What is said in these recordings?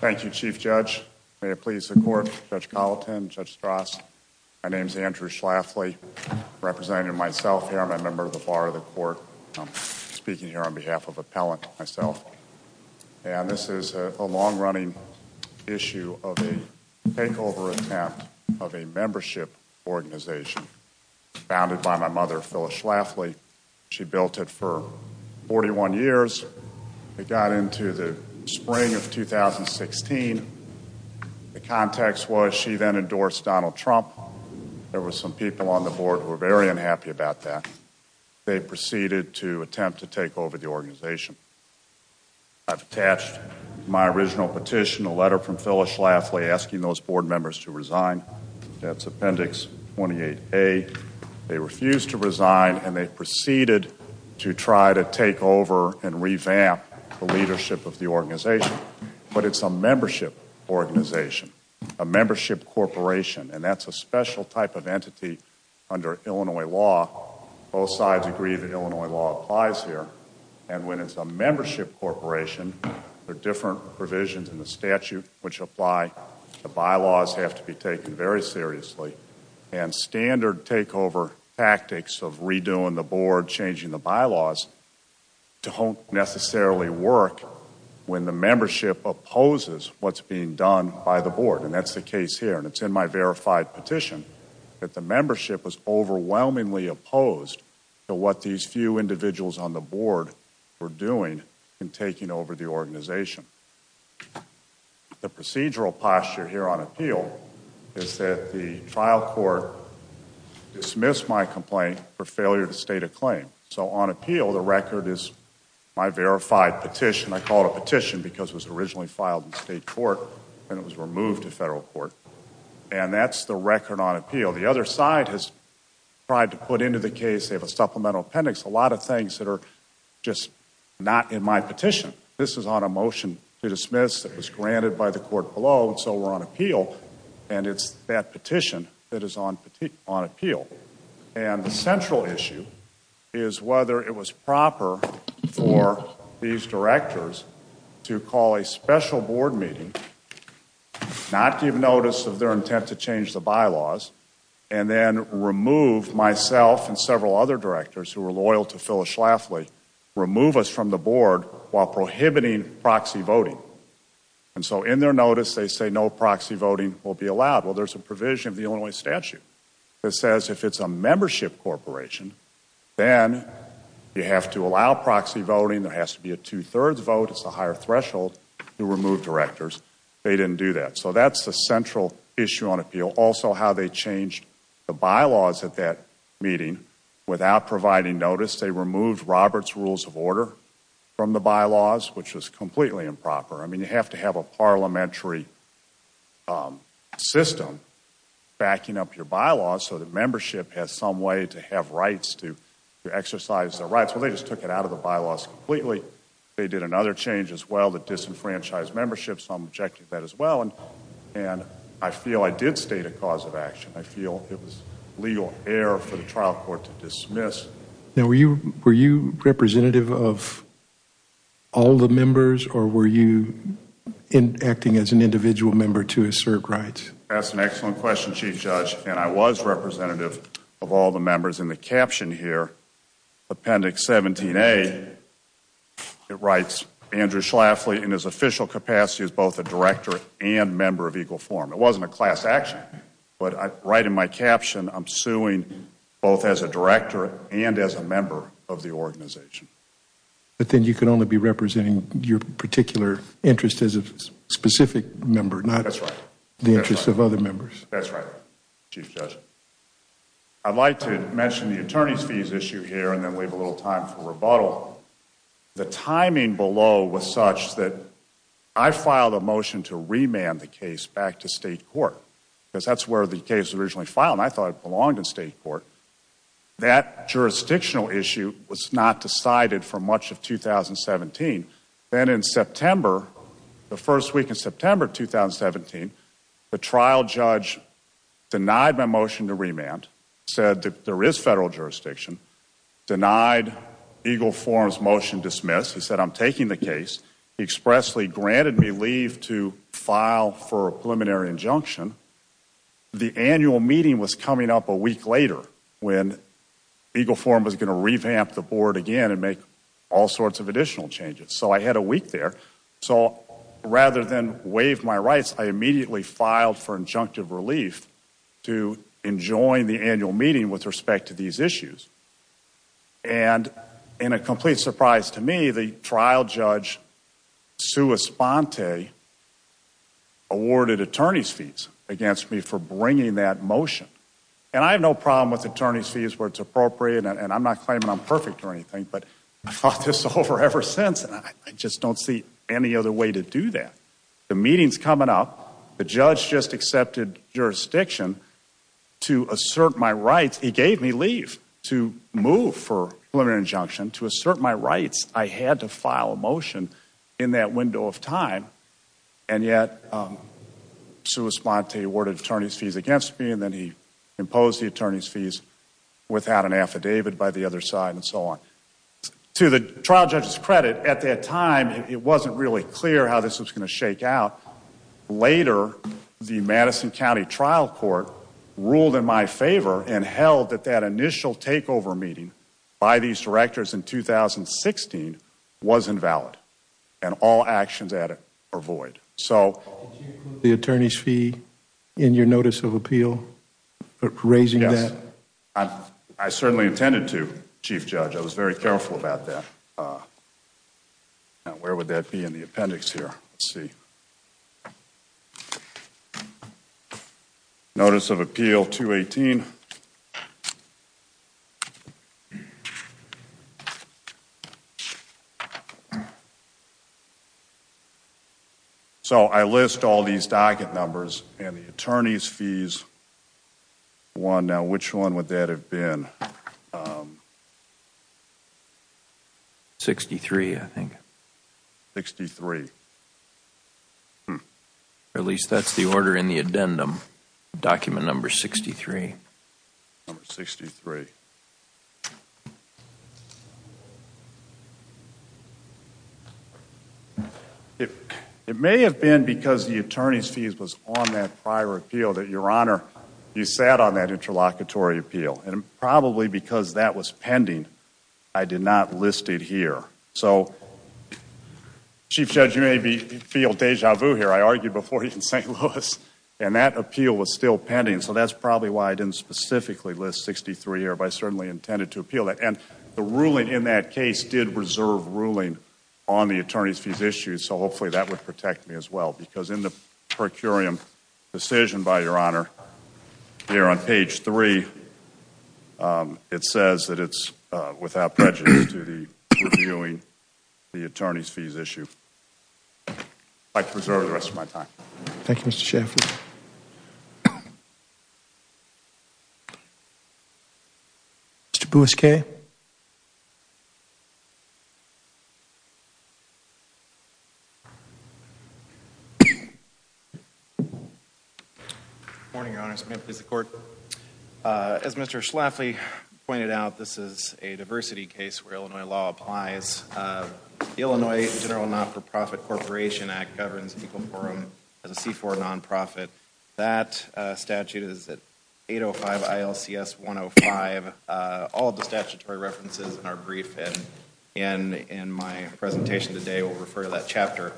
Thank you, Chief Judge. May it please the Court. Judge Colleton, Judge Strauss, my name is Andrew Schlafly, representing myself here. I'm a member of the Bar of the Court. I'm speaking here on behalf of Appellant myself. And this is a long-running issue of a takeover attempt of a membership organization founded by my mother, Phyllis Schlafly. She built it for 41 years. It got into the spring of 2016. The context was she then endorsed Donald Trump. There were some people on the board who were very unhappy about that. They proceeded to attempt to take over the organization. I've attached my original petition, a letter from Phyllis Schlafly asking those board members to resign. That's Appendix 28A. They refused to resign, and they proceeded to try to take over and revamp the leadership of the organization. But it's a membership organization, a membership corporation, and that's a special type of entity under Illinois law. Both sides agree that Illinois law applies here. And when it's a membership corporation, there are different provisions in the statute which apply. The bylaws have to be taken very seriously. And standard takeover tactics of redoing the board, changing the bylaws, don't necessarily work when the membership opposes what's being done by the board. And that's the case here. And it's in my verified petition that the board is doing in taking over the organization. The procedural posture here on appeal is that the trial court dismissed my complaint for failure to state a claim. So on appeal the record is my verified petition. I call it a petition because it was originally filed in state court and it was removed to federal court. And that's the record on appeal. The other side has tried to put into the case, they have a supplemental appendix, a lot of just not in my petition. This is on a motion to dismiss that was granted by the court below and so we're on appeal. And it's that petition that is on appeal. And the central issue is whether it was proper for these directors to call a special board meeting, not give notice of their intent to change the bylaws, and then remove myself and several other directors who were loyal to Phyllis Schlafly, remove us from the board while prohibiting proxy voting. And so in their notice they say no proxy voting will be allowed. Well there's a provision of the Illinois statute that says if it's a membership corporation, then you have to allow proxy voting, there has to be a two-thirds vote, it's a higher threshold to remove directors. They didn't do that. So that's the central issue on appeal. Also how they changed the bylaws at that meeting without providing notice. They removed Robert's rules of order from the bylaws, which was completely improper. I mean you have to have a parliamentary system backing up your bylaws so that membership has some way to have rights to exercise their rights. Well they just took it out of the bylaws completely. They did another change as well that disenfranchised membership, so I'm objecting to that as well. And I feel I did state a cause of action. I feel it was legal error for the trial court to dismiss. Now were you representative of all the members or were you acting as an individual member to assert rights? That's an excellent question Chief Judge, and I was representative of all the members in the caption here, Appendix 17A, it writes Andrew Schlafly in his official capacity as both a director and member of Equal Forum. It wasn't a class action, but right in my caption I'm suing both as a director and as a member of the organization. But then you could only be representing your particular interest as a specific member, not the interest of other members. That's right Chief Judge. I'd like to mention the attorney's fees issue here and then leave a little time for rebuttal. The timing below was such that I filed a motion to remand the case back to state court, because that's where the case was originally filed and I thought it belonged in state court. That jurisdictional issue was not decided for much of 2017. Then in September, the first week of September 2017, the trial judge denied my motion to remand, said that there is federal jurisdiction, denied Equal Forum's motion dismissed. He said I'm taking the case. He expressly granted me leave to file for a preliminary injunction. The annual meeting was coming up a week later when Equal Forum was going to revamp the board again and make all sorts of additional changes. So I had a week there. So rather than waive my rights, I immediately filed for injunctive relief to enjoin the annual meeting with respect to these issues. And in a complete surprise to me, the trial judge, Sue Esponte, awarded attorney's fees against me for bringing that motion. And I have no problem with attorney's fees where it's appropriate and I'm not claiming I'm any other way to do that. The meeting's coming up. The judge just accepted jurisdiction to assert my rights. He gave me leave to move for preliminary injunction to assert my rights. I had to file a motion in that window of time and yet Sue Esponte awarded attorney's fees against me and then he imposed the attorney's fees without an affidavit by the other side and so on. To the trial judge's credit, at that time, it wasn't really clear how this was going to shake out. Later, the Madison County Trial Court ruled in my favor and held that that initial takeover meeting by these directors in 2016 was invalid and all actions added are void. So. Did you include the attorney's fee in your notice of appeal for raising that? I certainly intended to, Chief Judge. I was very careful about that. Now, where would that be in the appendix here? Let's see. Notice of appeal 218. So I list all these docket numbers and the would that have been? 63, I think. 63. At least that's the order in the addendum, document number 63. Number 63. It may have been because the attorney's fees was on that prior appeal that, Your Honor, you sat on that interlocutory appeal and probably because that was pending, I did not list it here. So, Chief Judge, you may feel deja vu here. I argued before you in St. Louis and that appeal was still pending so that's probably why I didn't specifically list 63 here but I certainly intended to appeal that and the ruling in that case did reserve ruling on the attorney's fees issue so hopefully that would protect me as well because in the Your Honor, here on page 3, it says that it's without prejudice to the reviewing the attorney's fees issue. I preserve the rest of my time. Thank you, Mr. Shaffer. Mr. Bousquet. Good morning, Your Honor. As Mr. Schlafly pointed out, this is a diversity case where Illinois law that statute is at 805 ILCS 105. All of the statutory references in our brief and in my presentation today will refer to that chapter.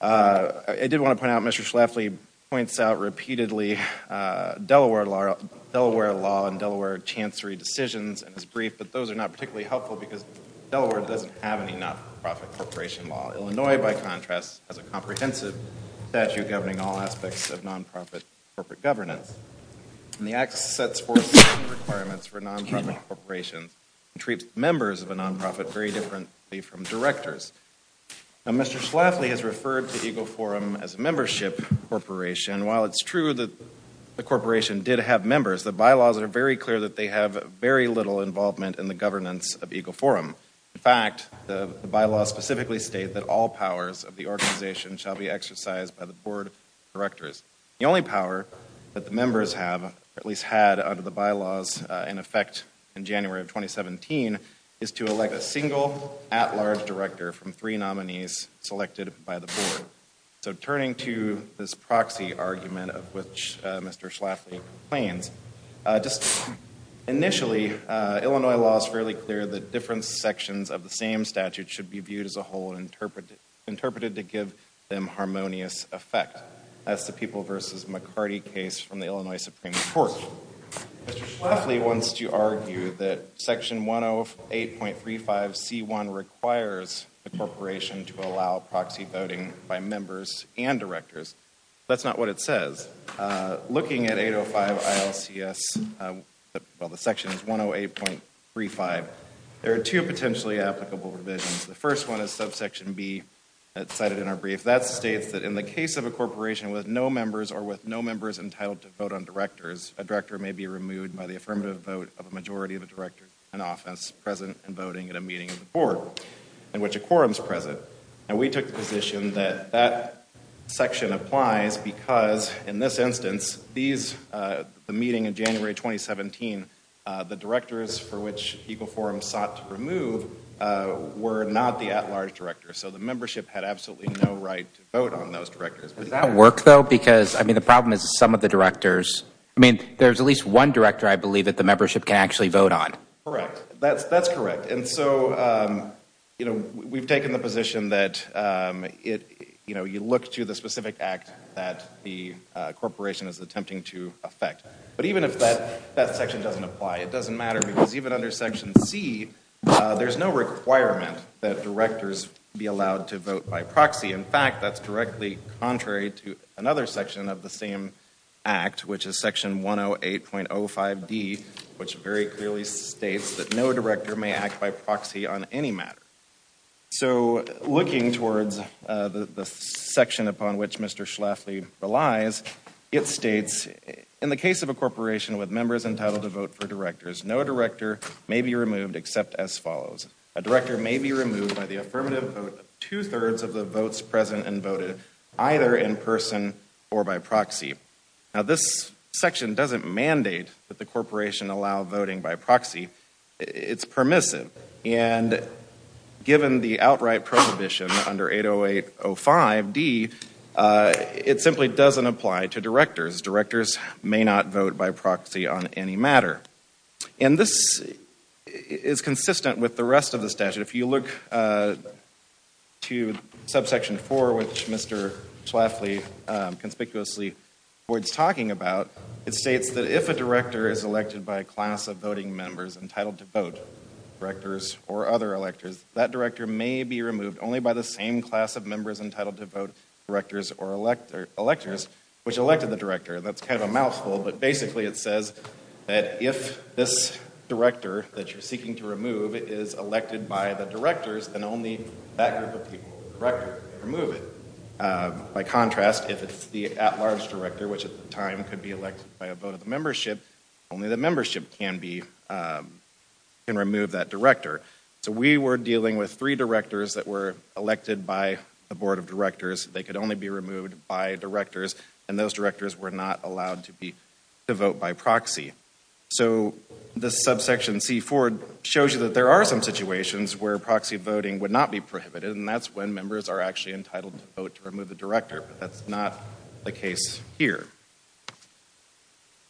I did want to point out Mr. Schlafly points out repeatedly Delaware law and Delaware chancery decisions in his brief but those are not particularly helpful because Delaware doesn't have any not-for-profit corporation law. Illinois, by contrast, has a comprehensive statute governing all aspects of non-profit corporate governance and the act sets forth requirements for non-profit corporations and treats members of a non-profit very differently from directors. Now Mr. Schlafly has referred to Ego Forum as a membership corporation. While it's true that the corporation did have members, the bylaws are very clear that they have very little involvement in the governance of Ego Forum. In fact, the bylaws specifically state that all powers of the organization shall be exercised by the board directors. The only power that the members have or at least had under the bylaws in effect in January of 2017 is to elect a single at-large director from three nominees selected by the board. So turning to this proxy argument of which Mr. Schlafly claims, just initially Illinois law is fairly clear that different sections of the same statute should be viewed as a whole and interpreted to give them harmonious effect. That's the People v. McCarty case from the Illinois Supreme Court. Mr. Schlafly wants to argue that section 108.35c1 requires the corporation to allow proxy voting by members and directors. That's not what it says. Looking at 805 ILCS, well the section is 108.35, there are two potentially applicable revisions. The first one is subsection b that's cited in our brief. That states that in the case of a corporation with no members or with no members entitled to vote on directors, a director may be removed by the affirmative vote of a majority of the directors in office present and voting at a meeting of the board in which a quorum is present. And we took the position that that section applies because in this instance these, the meeting in sought to remove were not the at-large directors. So the membership had absolutely no right to vote on those directors. Does that work though? Because I mean the problem is some of the directors, I mean there's at least one director I believe that the membership can actually vote on. Correct. That's correct. And so you know we've taken the position that it, you know, you look to the specific act that the corporation is attempting to affect. But even if that section doesn't apply, it doesn't matter because even under section c, there's no requirement that directors be allowed to vote by proxy. In fact, that's directly contrary to another section of the same act which is section 108.05d which very clearly states that no director may act by proxy on any matter. So looking towards the section upon which Mr. Schlafly relies, it states in the case of a corporation with members entitled to vote for directors, no director may be removed except as follows. A director may be removed by the affirmative vote two-thirds of the votes present and voted either in person or by proxy. Now this section doesn't mandate that the corporation allow voting by proxy. It's permissive. And given the outright prohibition under 808.05d, it simply doesn't apply to directors. Directors may not vote by proxy on any matter. And this is consistent with the rest of the statute. If you look to subsection 4 which Mr. Schlafly conspicuously avoids talking about, it states that if a director is elected by a class of voting members entitled to vote, directors or other electors, that director may be removed only by the same class of members entitled to vote, directors or electors, which elected the director. That's kind of a mouthful, but basically it says that if this director that you're seeking to remove is elected by the directors, then only that group of people can remove it. By contrast, if it's the at-large director, which at the time could be elected by a vote of the membership, only the membership can remove that director. So we were dealing with three directors that were elected by a board of directors. They could only be removed by directors, and those directors were not allowed to be to vote by proxy. So this subsection C4 shows you that there are some situations where proxy voting would not be prohibited, and that's when members are actually entitled to vote to remove the director, but that's not the case here.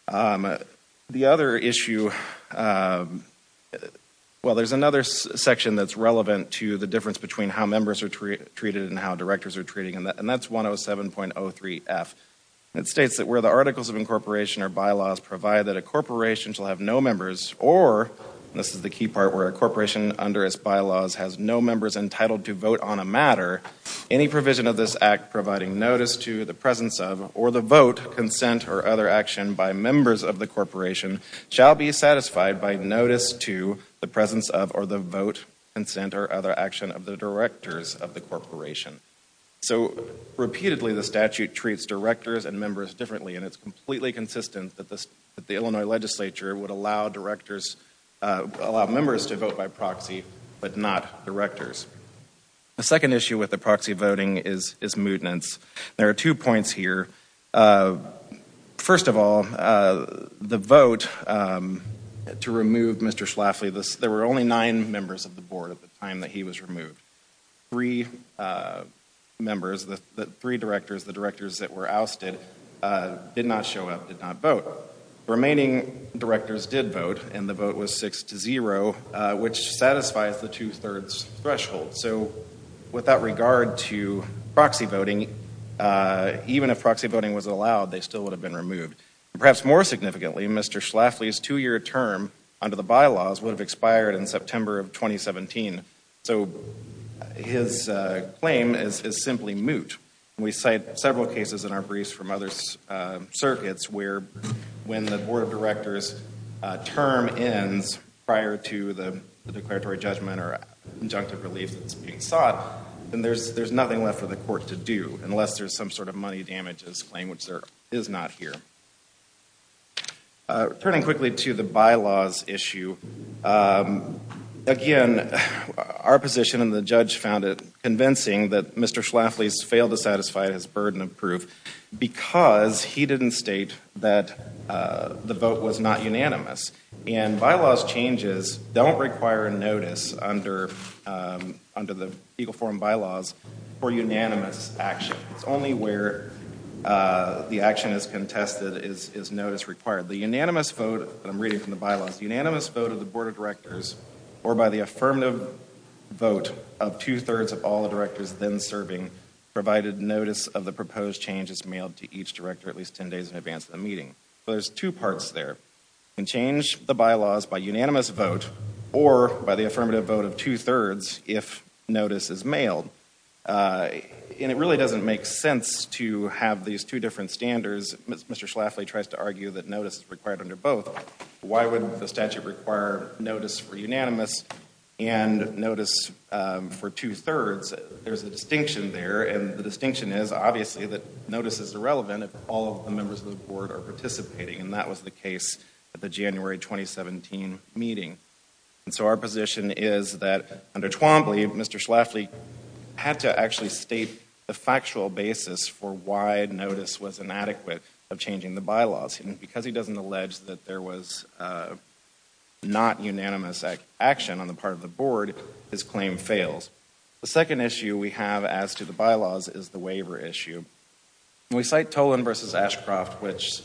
The other issue, well there's another section that's relevant to the difference between how members are treated and how directors are treated, and that's 107.03f. It states that where the articles of incorporation or bylaws provide that a corporation shall have no members, or this is the key part, where a corporation under its bylaws has no members entitled to vote on a provision of this act providing notice to the presence of, or the vote, consent, or other action by members of the corporation shall be satisfied by notice to the presence of, or the vote, consent, or other action of the directors of the corporation. So repeatedly the statute treats directors and members differently, and it's completely consistent that the Illinois legislature would allow directors, allow members to vote by proxy, but not directors. The second issue with the proxy voting is mutinance. There are two points here. First of all, the vote to remove Mr. Schlafly, there were only nine members of the board at the time that he was removed. Three members, the three directors, the directors that were ousted, did not show up, did not vote. Remaining directors did vote, and the vote was six to zero, which satisfies the two-thirds threshold. So with that regard to proxy voting, even if proxy voting was allowed, they still would have been removed. Perhaps more significantly, Mr. Schlafly's two-year term under the bylaws would have expired in September of 2017. So his claim is simply moot. We cite several cases in our briefs from other circuits where when the board of directors term ends prior to the declaratory judgment or injunctive relief that's being sought, then there's nothing left for the court to do unless there's some sort of money damages claim, which there is not here. Turning quickly to the bylaws issue, again, our position and the judge found it convincing that Mr. Schlafly's failed to satisfy his burden of proof because he didn't state that the vote was not unanimous. And bylaws changes don't require notice under the legal form bylaws for unanimous action. It's only where the action is contested is notice required. The unanimous vote, and I'm reading from the bylaws, unanimous vote of the board of directors or by the affirmative vote of two-thirds of all the directors then serving provided notice of the proposed change is mailed to each director at least 10 days in advance of the meeting. So there's two parts there. You can change the bylaws by unanimous vote or by the affirmative vote of two-thirds if notice is mailed. And it really doesn't make sense to have these two different standards. Mr. Schlafly tries to argue that notice is required under both. Why would the and the distinction is obviously that notice is irrelevant if all of the members of the board are participating. And that was the case at the January 2017 meeting. And so our position is that under Twombly, Mr. Schlafly had to actually state the factual basis for why notice was inadequate of changing the bylaws. And because he doesn't allege that there was not unanimous action on the part of the board, his claim fails. The second issue we have as to the bylaws is the waiver issue. We cite Tolan v. Ashcroft, which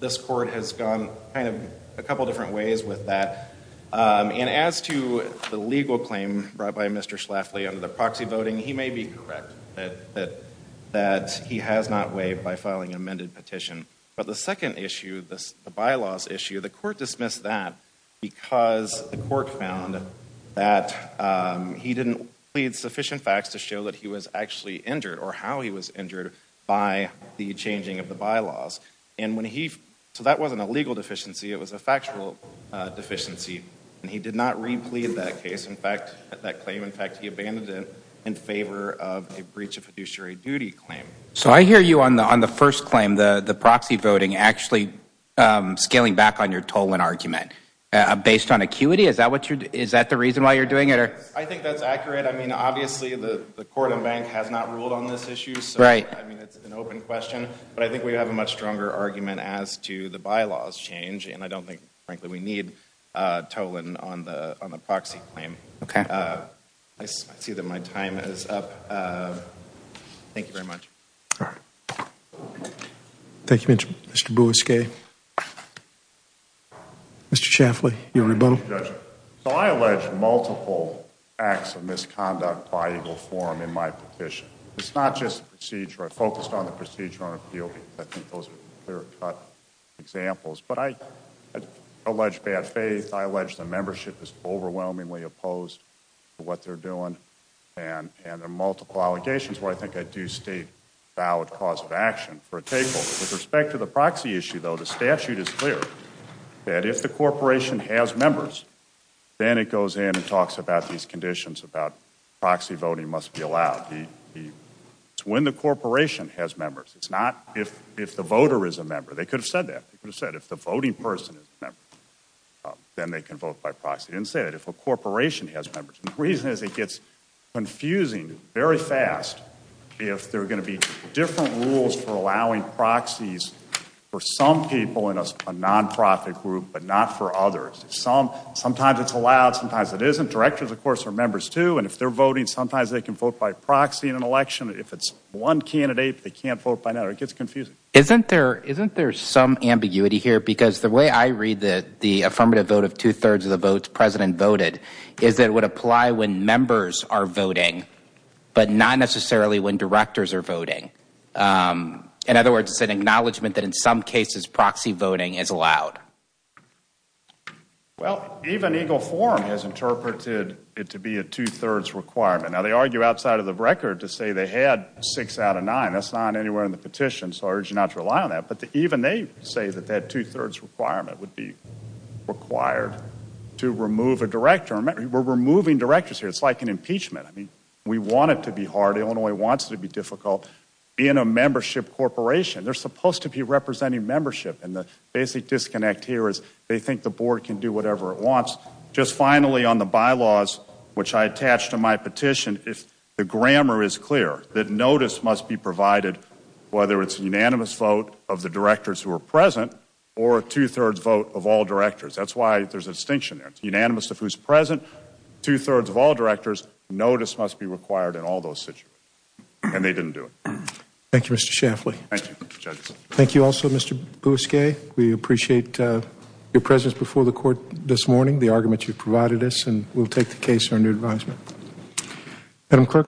this court has gone kind of a couple different ways with that. And as to the legal claim brought by Mr. Schlafly under the proxy voting, he may be correct that he has not waived by filing an amended petition. But the second issue, the bylaws issue, the court dismissed that because the court found that he didn't plead sufficient facts to show that he was actually injured or how he was injured by the changing of the bylaws. And when he, so that wasn't a legal deficiency, it was a factual deficiency. And he did not replead that case, in fact, that claim. In fact, he abandoned it in favor of a breach of fiduciary duty claim. So I hear you on the first claim, the proxy voting, actually scaling back on your Tolan argument based on acuity. Is that the reason why you're doing it? I think that's accurate. I mean, obviously, the court and bank has not ruled on this issue. I mean, it's an open question. But I think we have a much stronger argument as to the bylaws change. And I don't think, frankly, we need Tolan on the proxy claim. I see that my time is up. Thank you very much. Thank you, Mr. Bousquet. Mr. Chaffley, your rebuttal. So I allege multiple acts of misconduct by legal form in my petition. It's not just the procedure. I focused on the procedure on appeal because I think those are clear-cut examples. But I allege bad faith. I allege the membership is overwhelmingly opposed to what they're doing. And there are multiple allegations where I think I do state valid cause of action for a takeover. With respect to the proxy issue, though, the statute is clear that if the corporation has members, then it goes in and talks about these conditions about proxy voting must be allowed. It's when the corporation has members. It's not if the voter is a member. They could have said that. They could have said if the voting person is a member, then they can vote by proxy. They get confused very fast if there are going to be different rules for allowing proxies for some people in a nonprofit group, but not for others. Sometimes it's allowed. Sometimes it isn't. Directors, of course, are members, too. And if they're voting, sometimes they can vote by proxy in an election. If it's one candidate, they can't vote by another. It gets confusing. Isn't there some ambiguity here? Because the way I read the affirmative vote of two-thirds of the votes the president voted is that it would apply when members are voting, but not necessarily when directors are voting. In other words, it's an acknowledgment that in some cases, proxy voting is allowed. Well, even Eagle Forum has interpreted it to be a two-thirds requirement. Now, they argue outside of the record to say they had six out of nine. That's not anywhere in the petition, so I urge you not to rely on that. But even they say that that two-thirds requirement would be required to remove a director. We're removing directors here. It's like an impeachment. I mean, we want it to be hard. Illinois wants it to be difficult. Being a membership corporation, they're supposed to be representing membership. And the basic disconnect here is they think the board can do whatever it wants. Just finally, on the bylaws, which I attached to my petition, the grammar is clear. That notice must be provided, whether it's a unanimous vote of the directors who are present or a two-thirds vote of all directors. That's why there's a distinction there. It's unanimous of who's present, two-thirds of all directors. Notice must be required in all those situations. And they didn't do it. Thank you, Mr. Schaffley. Thank you. Thank you also, Mr. Bousquet. We appreciate your presence before the court this morning, the argument you've provided us, and we'll take the case under advisement.